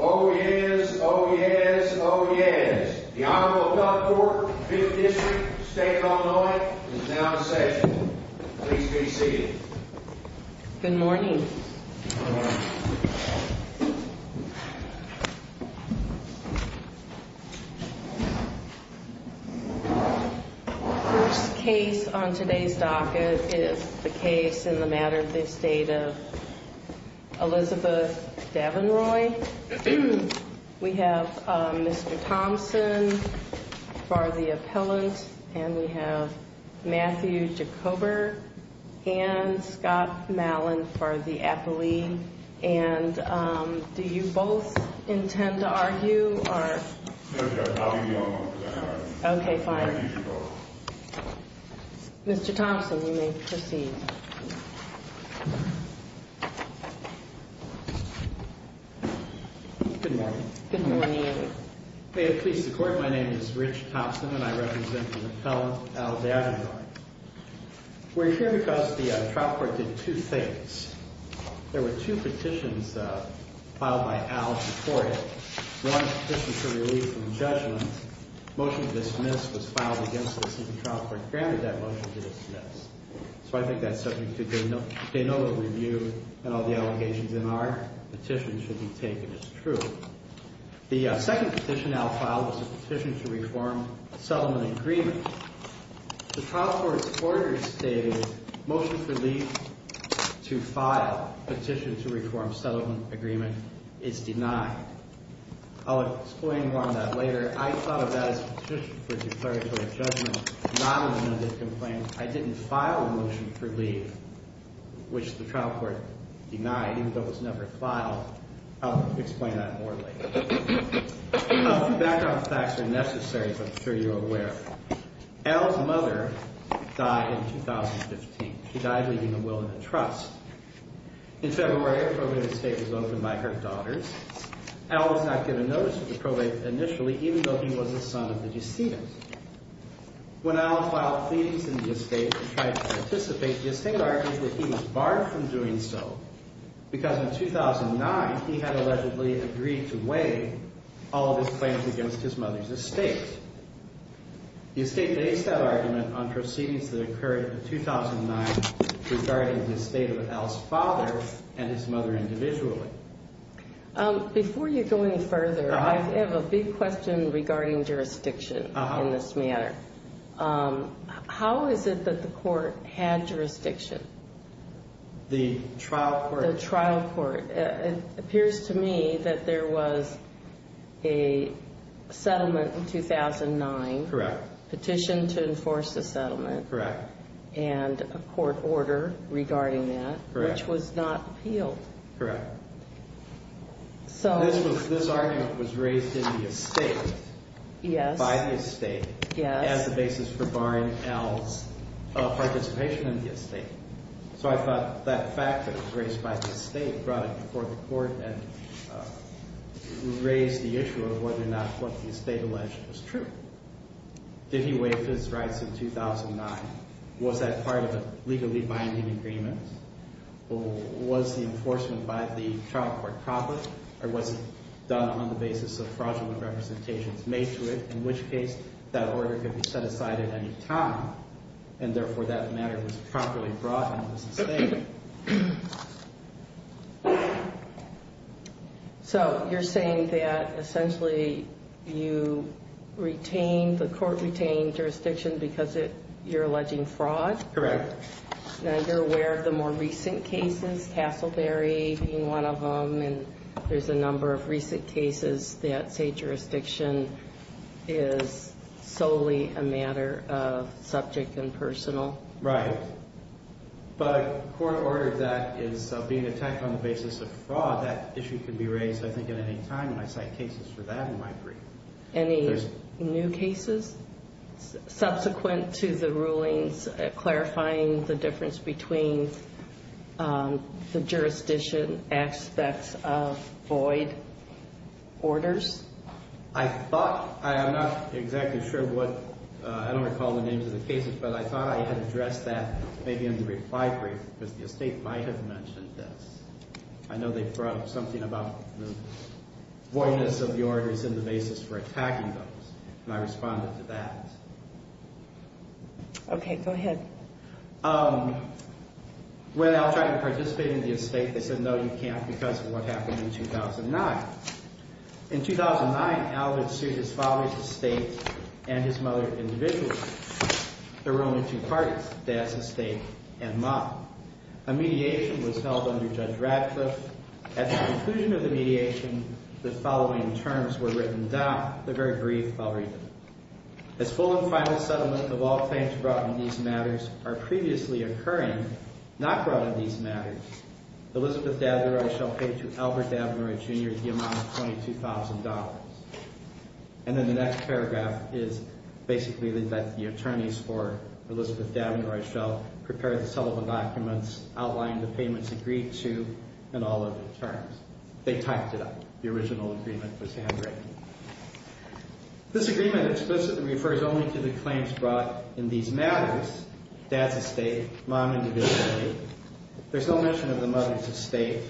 Oh, yes. Oh, yes. Oh, yes. The Honorable Duff Court, Fifth District, State of Illinois, is now in session. Please be seated. Good morning. First case on today's docket is the case in the matter of the Estate of Elizabeth Davinroy. We have Mr. Thompson for the appellant, and we have Matthew Jacober and Scott Mallon for the appellee. And do you both intend to argue? OK, fine. Mr. Thompson, we may proceed. Good morning. Good morning. May it please the Court, my name is Rich Thompson, and I represent the appellant, Al Davinroy. We're here because the trial court did two things. There were two petitions filed by Al before him. One petition for relief from judgment. Motion to dismiss was filed against us, and the trial court granted that motion to dismiss. So I think that subject to de novo review and all the allegations in our petition should be taken as true. The second petition Al filed was a petition to reform settlement agreement. The trial court's order stated motion for relief to file petition to reform settlement agreement is denied. I'll explain more on that later. I thought of that as a petition for declaratory judgment, not an amended complaint. I didn't file a motion for relief, which the trial court denied even though it was never filed. I'll explain that more later. A few background facts are necessary, as I'm sure you're aware. Al's mother died in 2015. She died leaving a will and a trust. In February, a probate estate was opened by her daughters. Al was not given notice of the probate initially, even though he was the son of the decedent. When Al filed pleadings in the estate and tried to participate, the estate argued that he was barred from doing so because in 2009 he had allegedly agreed to waive all of his claims against his mother's estate. The estate based that argument on proceedings that occurred in 2009 regarding the estate of Al's father and his mother individually. Before you go any further, I have a big question regarding jurisdiction in this manner. How is it that the court had jurisdiction? The trial court. The trial court. It appears to me that there was a settlement in 2009. Correct. Petition to enforce the settlement. Correct. And a court order regarding that. Correct. Which was not appealed. Correct. This argument was raised in the estate. Yes. By the estate. Yes. As the basis for barring Al's participation in the estate. So I thought that fact that it was raised by the estate brought it before the court and raised the issue of whether or not what the estate alleged was true. Did he waive his rights in 2009? Was that part of a legally binding agreement? Was the enforcement by the trial court proper? Or was it done on the basis of fraudulent representations made to it? In which case, that order could be set aside at any time. And therefore, that matter was properly brought into the estate. So you're saying that essentially you retained, the court retained jurisdiction because you're alleging fraud? Correct. Now you're aware of the more recent cases, Castleberry being one of them. And there's a number of recent cases that say jurisdiction is solely a matter of subject and personal. Right. But a court order that is being attacked on the basis of fraud, that issue could be raised, I think, at any time. And I cite cases for that in my brief. Any new cases? Subsequent to the rulings clarifying the difference between the jurisdiction aspects of void orders? I thought, I'm not exactly sure what, I don't recall the names of the cases, but I thought I had addressed that maybe in the reply brief. Because the estate might have mentioned this. I know they brought up something about the voidness of the orders in the basis for attacking those. And I responded to that. Okay, go ahead. When Al tried to participate in the estate, they said, no, you can't because of what happened in 2009. In 2009, Al had sued his father's estate and his mother individually. There were only two parties, Dad's estate and Mom. A mediation was held under Judge Ratcliffe. At the conclusion of the mediation, the following terms were written down. They're very brief. I'll read them. As full and final settlement of all claims brought in these matters are previously occurring, not brought in these matters, Elizabeth Dabneroy shall pay to Albert Dabneroy, Jr. the amount of $22,000. And then the next paragraph is basically that the attorneys for Elizabeth Dabneroy shall prepare the settlement documents, outline the payments agreed to, and all other terms. They typed it up. The original agreement was handwritten. This agreement explicitly refers only to the claims brought in these matters, Dad's estate, Mom individually. There's no mention of the mother's estate.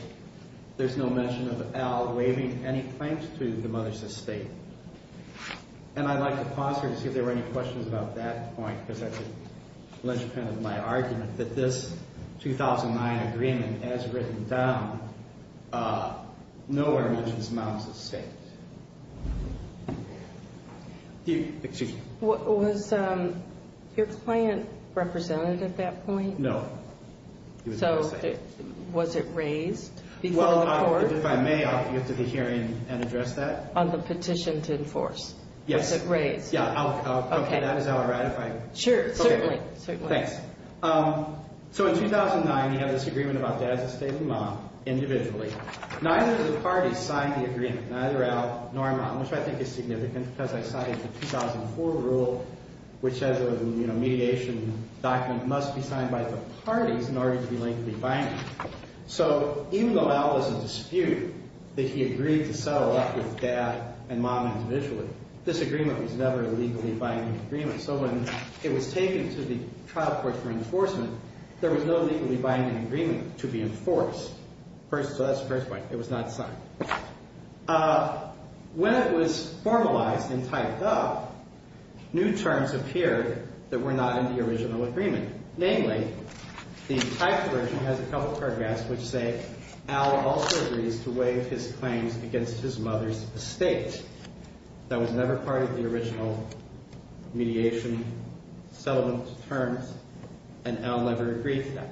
There's no mention of Al waiving any claims to the mother's estate. And I'd like to pause here to see if there were any questions about that point because that's the linchpin of my argument, that this 2009 agreement, as written down, nowhere mentions Mom's estate. Excuse me. Was your client represented at that point? No. So was it raised before the court? Well, if I may, I'll get to the hearing and address that. On the petition to enforce. Yes. Was it raised? Yeah. Okay. That is how I ratify. Sure. Certainly. Thanks. So in 2009, you have this agreement about Dad's estate and Mom individually. Neither of the parties signed the agreement, neither Al nor Mom, which I think is significant because I cited the 2004 rule, which says a mediation document must be signed by the parties in order to be legally binding. So even though Al was in dispute that he agreed to settle up with Dad and Mom individually, this agreement was never a legally binding agreement. So when it was taken to the trial court for enforcement, there was no legally binding agreement to be enforced. So that's the first point. It was not signed. When it was formalized and typed up, new terms appeared that were not in the original agreement. Namely, the typed version has a couple paragraphs which say Al also agrees to waive his claims against his mother's estate. That was never part of the original mediation settlement terms, and Al never agreed to that.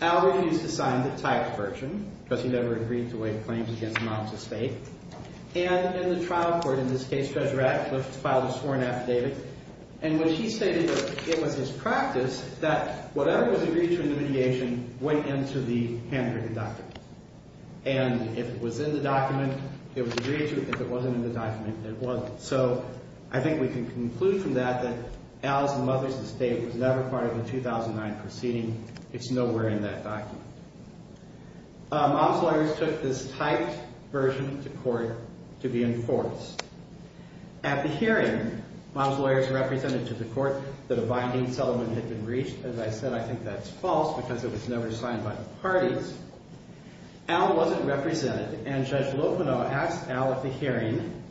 Al refused to sign the typed version because he never agreed to waive claims against Mom's estate. And in the trial court, in this case, Judge Ratcliffe filed a sworn affidavit in which he stated that it was his practice that whatever was agreed to in the mediation went into the handwritten document. And if it was in the document, it was agreed to. If it wasn't in the document, it wasn't. So I think we can conclude from that that Al's mother's estate was never part of the 2009 proceeding. It's nowhere in that document. Mom's lawyers took this typed version to court to be enforced. At the hearing, Mom's lawyers represented to the court that a binding settlement had been reached. As I said, I think that's false because it was never signed by the parties. Al wasn't represented, and Judge Locono asked Al at the hearing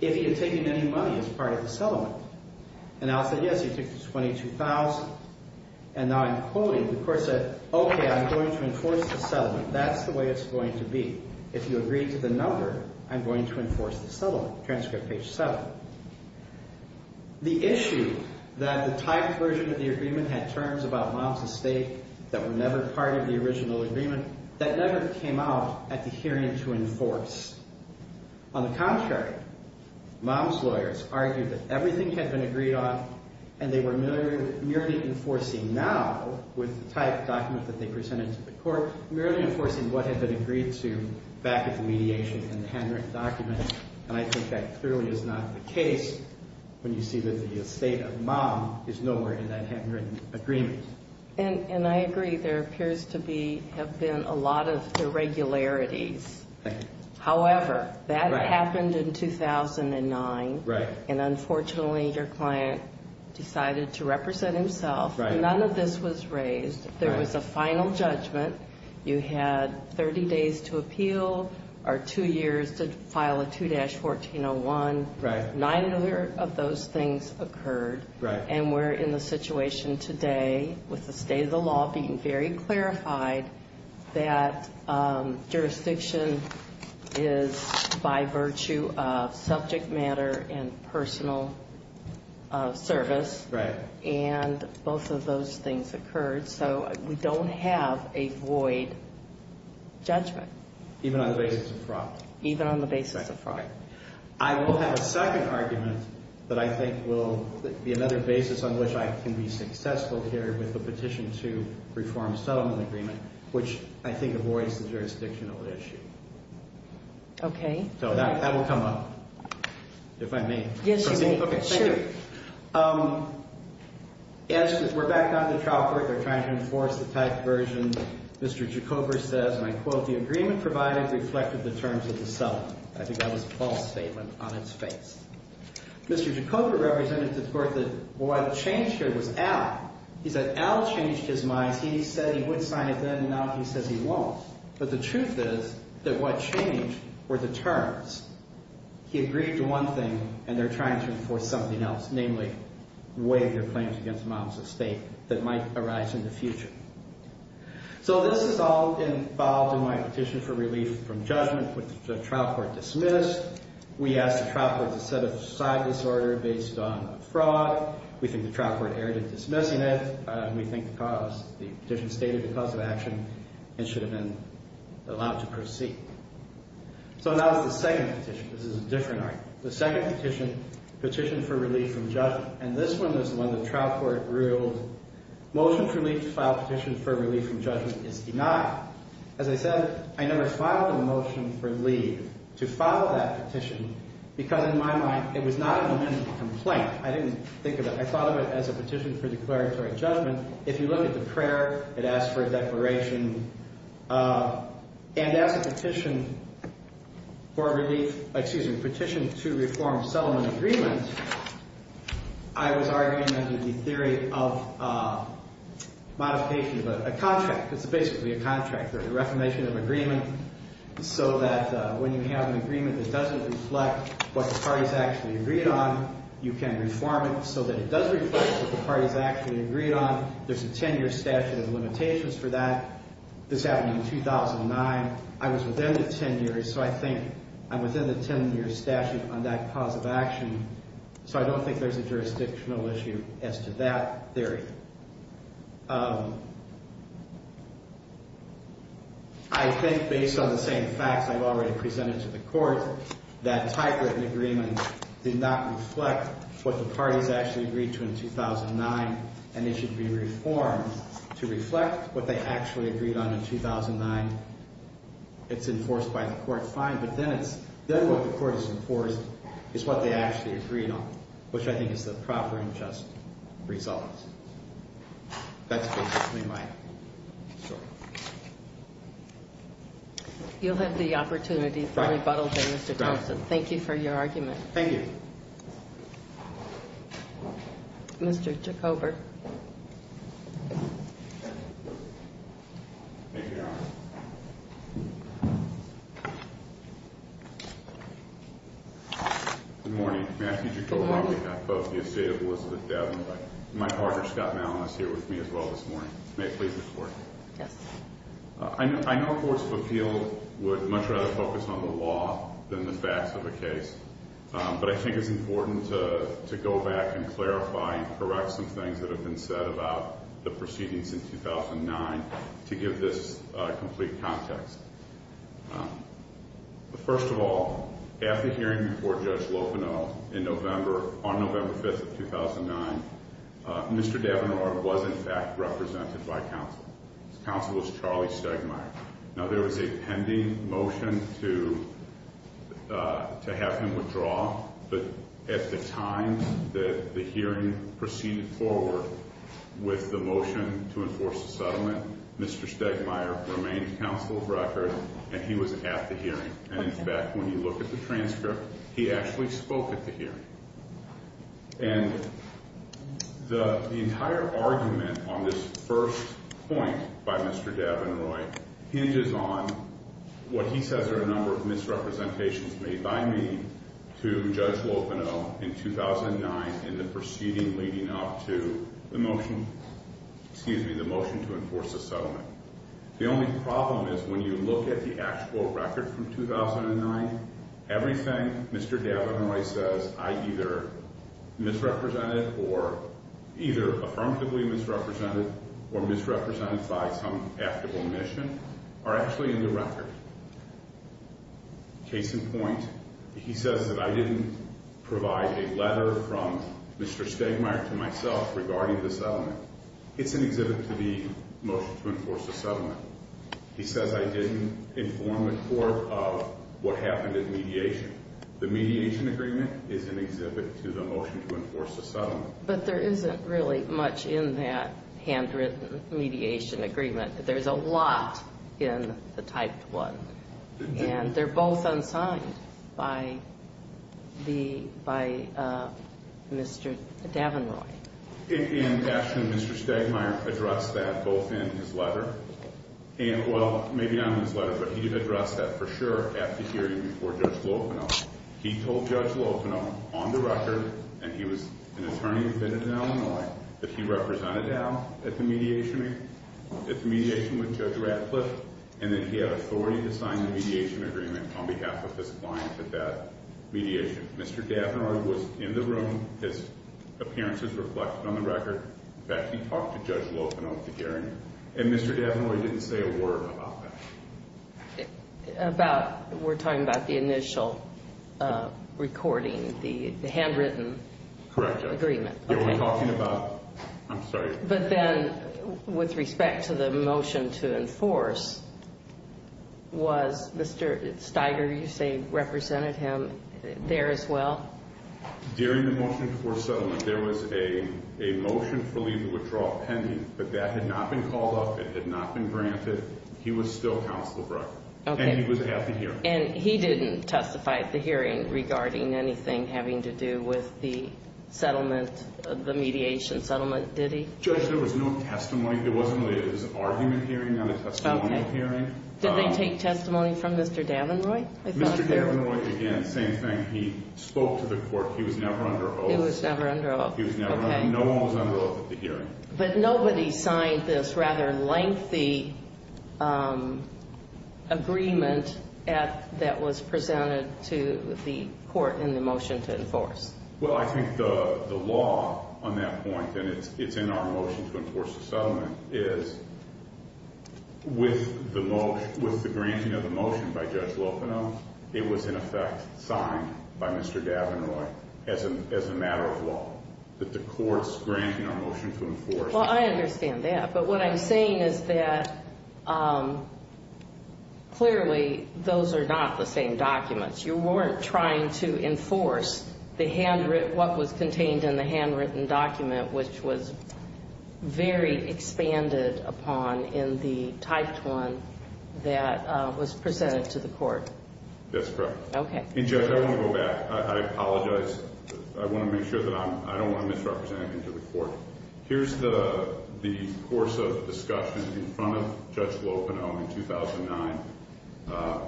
if he had taken any money as part of the settlement. And Al said, yes, he took $22,000. And now I'm quoting. The court said, OK, I'm going to enforce the settlement. That's the way it's going to be. If you agree to the number, I'm going to enforce the settlement. Transcript page 7. The issue that the typed version of the agreement had terms about Mom's estate that were never part of the original agreement, that never came out at the hearing to enforce. On the contrary, Mom's lawyers argued that everything had been agreed on, and they were merely enforcing now with the typed document that they presented to the court, merely enforcing what had been agreed to back at the mediation in the handwritten document. And I think that clearly is not the case when you see that the estate of Mom is nowhere in that handwritten agreement. And I agree. There appears to have been a lot of irregularities. Thank you. However, that happened in 2009. Right. And unfortunately, your client decided to represent himself. Right. None of this was raised. There was a final judgment. You had 30 days to appeal or two years to file a 2-1401. Right. Nine of those things occurred. Right. And we're in the situation today with the state of the law being very clarified that jurisdiction is by virtue of subject matter and personal service. Right. And both of those things occurred. So we don't have a void judgment. Even on the basis of fraud. Even on the basis of fraud. Right. I will have a second argument that I think will be another basis on which I can be successful here with the petition to reform settlement agreement, which I think avoids the jurisdictional issue. Okay. So that will come up, if I may. Yes, you may. Okay, thank you. Sure. We're back on the chalkboard. They're trying to enforce the typed version. Mr. Jacober says, and I quote, the agreement provided reflected the terms of the settlement. I think that was a false statement on its face. Mr. Jacober represented the court that what changed here was Al. He said Al changed his mind. He said he would sign it then, and now he says he won't. But the truth is that what changed were the terms. He agreed to one thing, and they're trying to enforce something else. Namely, waive their claims against Mom's estate that might arise in the future. So this is all involved in my petition for relief from judgment, which the trial court dismissed. We asked the trial court to set aside disorder based on fraud. We think the trial court erred in dismissing it. We think the cause, the petition stated the cause of action and should have been allowed to proceed. So now it's the second petition. This is a different argument. The second petition, petition for relief from judgment. And this one is one the trial court ruled motion for relief to file petition for relief from judgment is denied. As I said, I never filed a motion for leave to file that petition because in my mind it was not an amendment complaint. I didn't think of it. I thought of it as a petition for declaratory judgment. If you look at the prayer, it asks for a declaration. And as a petition for relief, excuse me, petition to reform settlement agreement, I was arguing under the theory of modification of a contract. It's basically a contract, a reformation of agreement so that when you have an agreement that doesn't reflect what the parties actually agreed on, you can reform it so that it does reflect what the parties actually agreed on. There's a 10-year statute of limitations for that. This happened in 2009. I was within the 10 years, so I think I'm within the 10-year statute on that cause of action. So I don't think there's a jurisdictional issue as to that theory. I think based on the same facts I've already presented to the court, that type of agreement did not reflect what the parties actually agreed to in 2009, and it should be reformed to reflect what they actually agreed on in 2009. It's enforced by the court, fine, but then what the court has enforced is what they actually agreed on, which I think is the proper and just result. That's basically my story. You'll have the opportunity for rebuttal here, Mr. Thompson. Thank you for your argument. Thank you. Mr. Jacober. Thank you, Your Honor. Good morning. May I speak to you on behalf of the estate of Elizabeth Davenport? My partner, Scott Malin, is here with me as well this morning. May it please the Court. Yes. I know courts of appeal would much rather focus on the law than the facts of a case, but I think it's important to go back and clarify and correct some things that have been said about the proceedings in 2009 to give this complete context. First of all, at the hearing before Judge Lopino in November, on November 5th of 2009, Mr. Davenport was, in fact, represented by counsel. Counsel was Charlie Stegmaier. Now, there was a pending motion to have him withdraw, but at the time that the hearing proceeded forward with the motion to enforce the settlement, Mr. Stegmaier remained counsel of record, and he was at the hearing. And, in fact, when you look at the transcript, he actually spoke at the hearing. And the entire argument on this first point by Mr. Davenport hinges on what he says are a number of misrepresentations made by me to Judge Lopino in 2009 in the proceeding leading up to the motion to enforce the settlement. The only problem is when you look at the actual record from 2009, everything Mr. Davenport says I either misrepresented or either affirmatively misrepresented or misrepresented by some actable admission are actually in the record. Case in point, he says that I didn't provide a letter from Mr. Stegmaier to myself regarding the settlement. It's an exhibit to the motion to enforce the settlement. He says I didn't inform the court of what happened in mediation. The mediation agreement is an exhibit to the motion to enforce the settlement. But there isn't really much in that handwritten mediation agreement. There's a lot in the typed one, and they're both unsigned by Mr. Davenport. In action, Mr. Stegmaier addressed that both in his letter and, well, maybe not in his letter, but he did address that for sure at the hearing before Judge Lopino. He told Judge Lopino on the record, and he was an attorney who's been in Illinois, that he represented Al at the mediation with Judge Ratcliffe, and that he had authority to sign the mediation agreement on behalf of his client at that mediation. Mr. Davenport was in the room. His appearance is reflected on the record. In fact, he talked to Judge Lopino at the hearing, and Mr. Davenport didn't say a word about that. About? We're talking about the initial recording, the handwritten agreement. Correct, Judge. You're only talking about? I'm sorry. But then with respect to the motion to enforce, was Mr. Steiger, you say, represented him? There as well? During the motion for settlement, there was a motion for legal withdrawal pending, but that had not been called up. It had not been granted. He was still counsel of record, and he was at the hearing. And he didn't testify at the hearing regarding anything having to do with the settlement, the mediation settlement, did he? Judge, there was no testimony. It was an argument hearing, not a testimonial hearing. Did they take testimony from Mr. Davenport? Mr. Davenport, again, same thing. He spoke to the court. He was never under oath. He was never under oath. No one was under oath at the hearing. But nobody signed this rather lengthy agreement that was presented to the court in the motion to enforce. Well, I think the law on that point, and it's in our motion to enforce the settlement, is with the granting of the motion by Judge Lopinoff, it was, in effect, signed by Mr. Davenport as a matter of law, that the court's granting our motion to enforce. Well, I understand that. But what I'm saying is that clearly those are not the same documents. You weren't trying to enforce what was contained in the handwritten document, which was very expanded upon in the typed one that was presented to the court. That's correct. Okay. And, Judge, I want to go back. I apologize. I want to make sure that I don't want to misrepresent anything to the court. Here's the course of discussion in front of Judge Lopinoff in 2009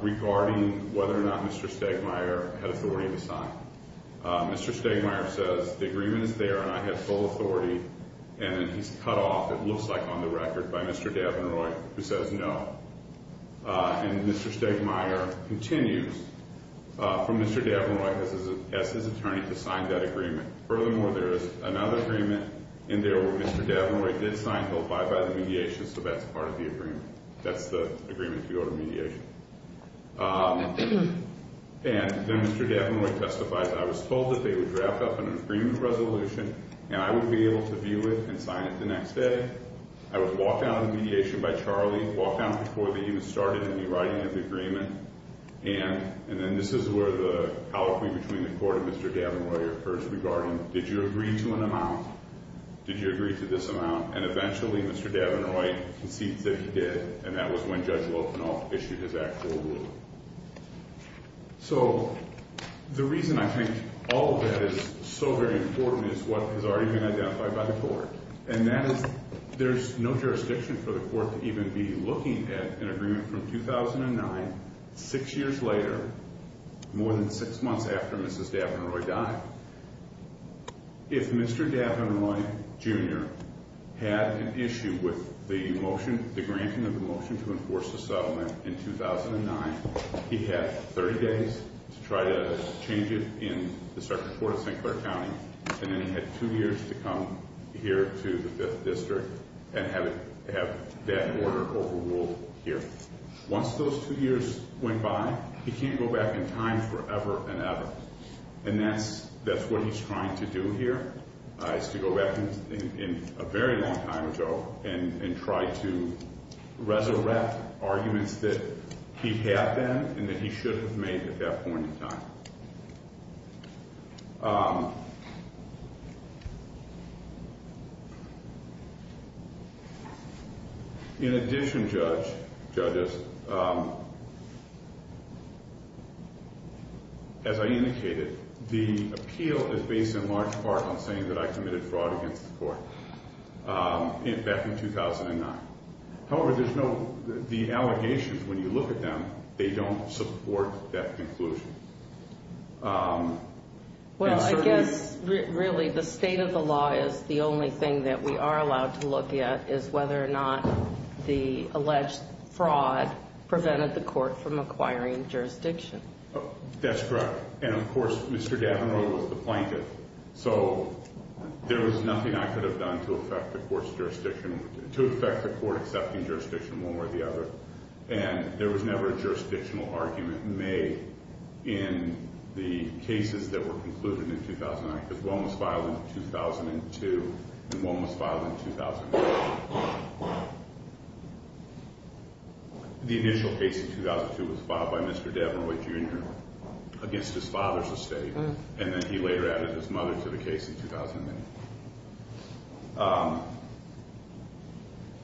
regarding whether or not Mr. Stegmaier had authority to sign. Mr. Stegmaier says the agreement is there and I have full authority. And then he's cut off, it looks like, on the record by Mr. Davenport, who says no. And Mr. Stegmaier continues from Mr. Davenport has asked his attorney to sign that agreement. Furthermore, there is another agreement in there where Mr. Davenport did sign, held by the mediation, so that's part of the agreement. That's the agreement to go to mediation. And then Mr. Davenport testifies, I was told that they would draft up an agreement resolution, and I would be able to view it and sign it the next day. I was walked out of the mediation by Charlie, walked out before they even started in the writing of the agreement. And then this is where the colloquy between the court and Mr. Davenport occurs regarding did you agree to an amount? Did you agree to this amount? And eventually Mr. Davenport concedes that he did, and that was when Judge Lopinoff issued his actual ruling. So the reason I think all of that is so very important is what has already been identified by the court. And that is there's no jurisdiction for the court to even be looking at an agreement from 2009, six years later, more than six months after Mrs. Davenroy died. If Mr. Davenroy Jr. had an issue with the motion, the granting of the motion to enforce the settlement in 2009, he had 30 days to try to change it in the circuit court of St. Clair County. And then he had two years to come here to the 5th District and have that order overruled here. Once those two years went by, he can't go back in time forever and ever. And that's what he's trying to do here is to go back in a very long time, Joe, and try to resurrect arguments that he had then and that he should have made at that point in time. In addition, judges, as I indicated, the appeal is based in large part on saying that I committed fraud against the court back in 2009. However, the allegations, when you look at them, they don't support that conclusion. Well, I guess, really, the state of the law is the only thing that we are allowed to look at, is whether or not the alleged fraud prevented the court from acquiring jurisdiction. That's correct. And, of course, Mr. Davenroy was the plaintiff, so there was nothing I could have done to affect the court's jurisdiction, to affect the court accepting jurisdiction one way or the other. And there was never a jurisdictional argument made in the cases that were concluded in 2009, because one was filed in 2002 and one was filed in 2003. The initial case in 2002 was filed by Mr. Davenroy Jr. against his father's estate, and then he later added his mother to the case in 2008.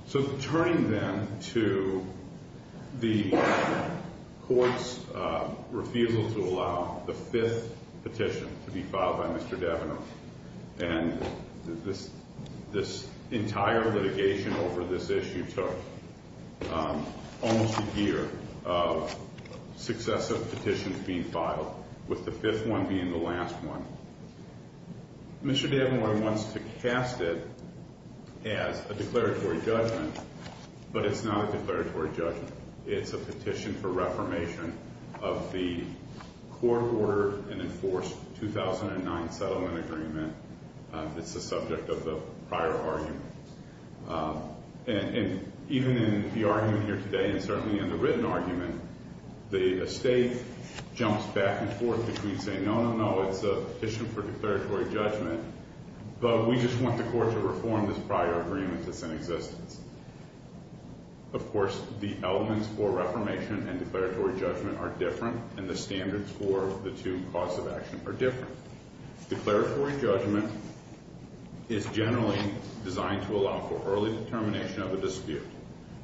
So, turning then to the court's refusal to allow the fifth petition to be filed by Mr. Davenroy, and this entire litigation over this issue took almost a year of successive petitions being filed, with the fifth one being the last one. Mr. Davenroy wants to cast it as a declaratory judgment, but it's not a declaratory judgment. It's a petition for reformation of the court-ordered and enforced 2009 settlement agreement. It's the subject of the prior argument. And even in the argument here today, and certainly in the written argument, the estate jumps back and forth between saying, no, no, no, it's a petition for declaratory judgment, but we just want the court to reform this prior agreement that's in existence. Of course, the elements for reformation and declaratory judgment are different, and the standards for the two cause of action are different. Declaratory judgment is generally designed to allow for early determination of a dispute.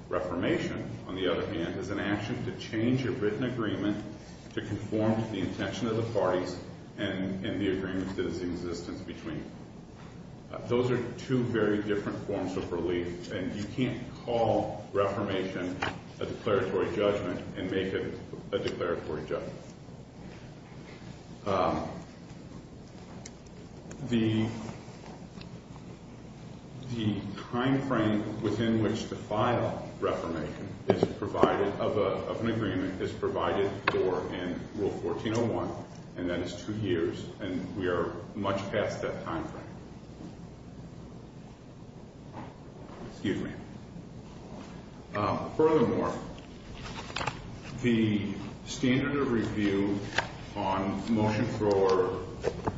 Reformation, on the other hand, is an action to change a written agreement to conform to the intention of the parties and the agreement that is in existence between them. Those are two very different forms of relief, and you can't call reformation a declaratory judgment and make it a declaratory judgment. The timeframe within which the final reformation of an agreement is provided for in Rule 1401, and that is two years, and we are much past that timeframe. Excuse me. Furthermore, the standard of review on the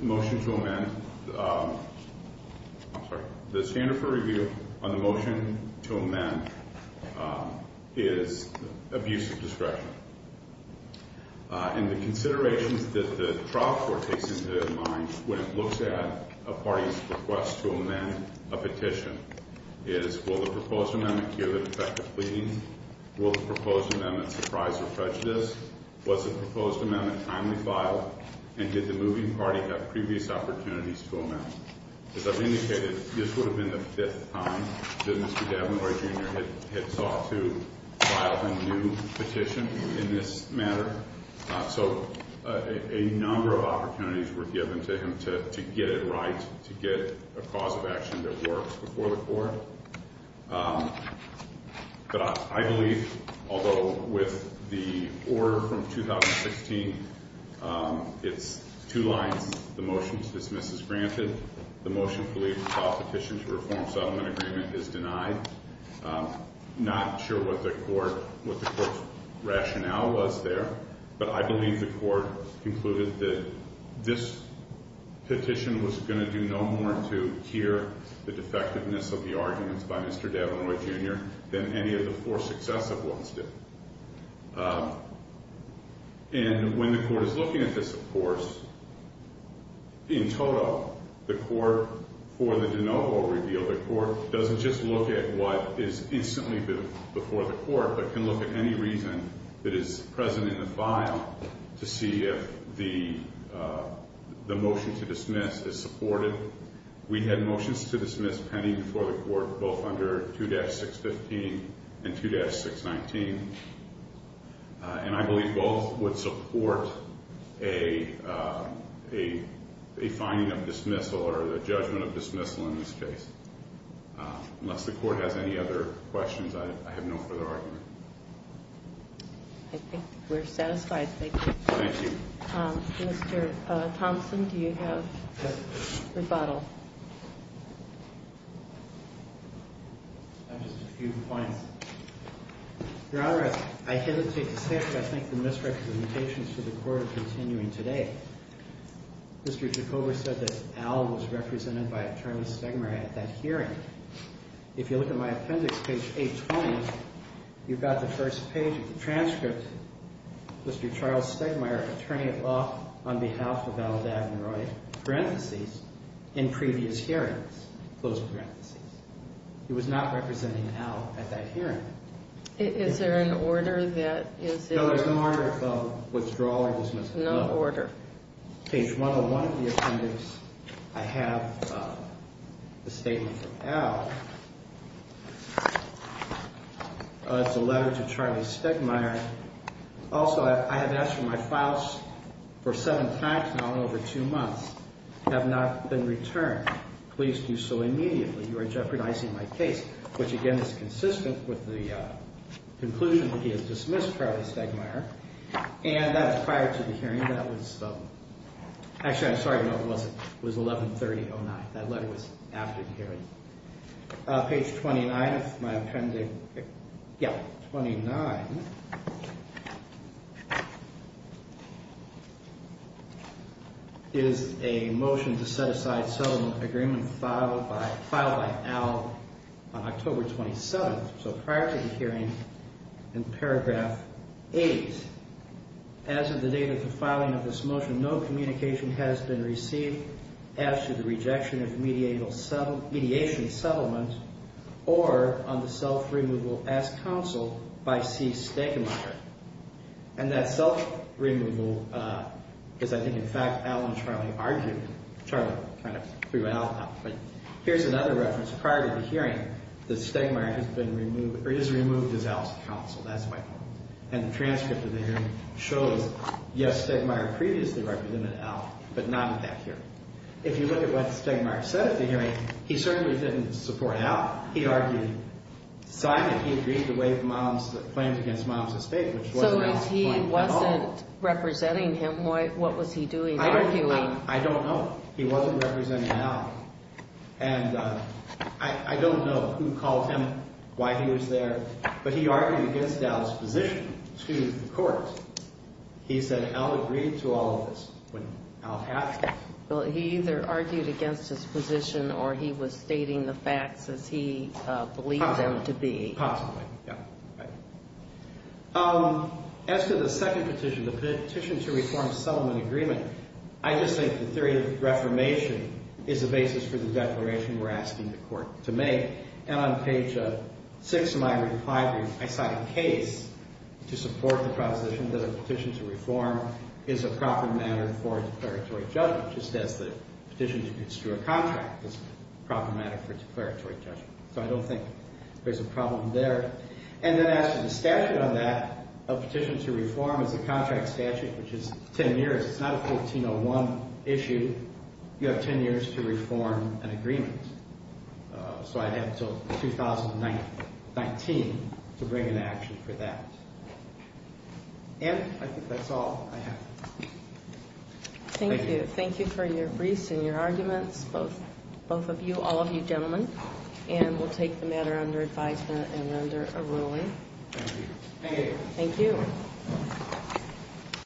motion to amend is abuse of discretion. And the considerations that the trial court takes into mind when it looks at a party's request to amend a petition is, will the proposed amendment cure the defective pleading? Will the proposed amendment surprise or prejudice? Was the proposed amendment timely filed? And did the moving party have previous opportunities to amend? As I've indicated, this would have been the fifth time that Mr. Davenport, Jr. had sought to file a new petition in this matter. So a number of opportunities were given to him to get it right, to get a cause of action that works before the court. But I believe, although with the order from 2016, it's two lines. The motion to dismiss is granted. The motion to leave the petition to reform a settlement agreement is denied. Not sure what the court's rationale was there, but I believe the court concluded that this petition was going to do no more harm to cure the defectiveness of the arguments by Mr. Davenport, Jr. than any of the four successive ones did. And when the court is looking at this, of course, in total, the court, for the de novo reveal, the court doesn't just look at what is instantly before the court, but can look at any reason that is present in the file to see if the motion to dismiss is supported. We had motions to dismiss pending before the court, both under 2-615 and 2-619. And I believe both would support a finding of dismissal or a judgment of dismissal in this case. Unless the court has any other questions, I have no further argument. I think we're satisfied. Thank you. Thank you. Mr. Thompson, do you have rebuttal? I have just a few points. Your Honor, I hesitate to say it, but I think the misrepresentations to the court are continuing today. Mr. Jacobo said that Al was represented by Attorney Stegmire at that hearing. If you look at my appendix, page 820, you've got the first page of the transcript. Mr. Charles Stegmire, attorney at law, on behalf of Al Davenroy, parentheses, in previous hearings, close parentheses. He was not representing Al at that hearing. Is there an order that is... No, there's no order of withdrawal or dismissal. No order. Page 101 of the appendix, I have the statement from Al. It's a letter to Charlie Stegmire. Also, I have asked for my files for seven times now in over two months. Have not been returned. Please do so immediately. You are jeopardizing my case, which, again, is consistent with the conclusion that he has dismissed Charlie Stegmire. And that's prior to the hearing. Actually, I'm sorry. No, it wasn't. It was 113009. That letter was after the hearing. Page 29 of my appendix. Yeah, 29. It is a motion to set aside settlement agreement filed by Al on October 27th, so prior to the hearing, in paragraph 8. As of the date of the filing of this motion, no communication has been received as to the rejection of mediation settlement or on the self-removal as counsel by C. Stegmire. And that self-removal is, I think, in fact, Al and Charlie argued. Charlie kind of threw Al out. But here's another reference. Prior to the hearing, the Stegmire has been removed, or is removed as Al's counsel. That's my point. And the transcript of the hearing shows, yes, Stegmire previously represented Al, but not in that hearing. If you look at what Stegmire said at the hearing, he certainly didn't support Al. He argued Simon. He agreed to waive claims against Mom's estate, which wasn't his point at all. So if he wasn't representing him, what was he doing, arguing? I don't know. He wasn't representing Al. And I don't know who called him, why he was there. But he argued against Al's position to the court. He said, Al agreed to all of this, when Al passed it. Well, he either argued against his position, or he was stating the facts as he believed them to be. Possibly, yeah. As to the second petition, the petition to reform settlement agreement, I just think the theory of reformation is the basis for the declaration we're asking the court to make. And on page 6 of my reply brief, I cite a case to support the proposition that a petition to reform is a proper matter for a declaratory judgment, just as the petition to construe a contract is a proper matter for a declaratory judgment. So I don't think there's a problem there. And then as to the statute on that, a petition to reform is a contract statute, which is 10 years. It's not a 1401 issue. You have 10 years to reform an agreement. So I'd have until 2019 to bring an action for that. And I think that's all I have. Thank you. Thank you for your briefs and your arguments, both of you, all of you gentlemen. And we'll take the matter under advisement and under a ruling. Thank you. Thank you.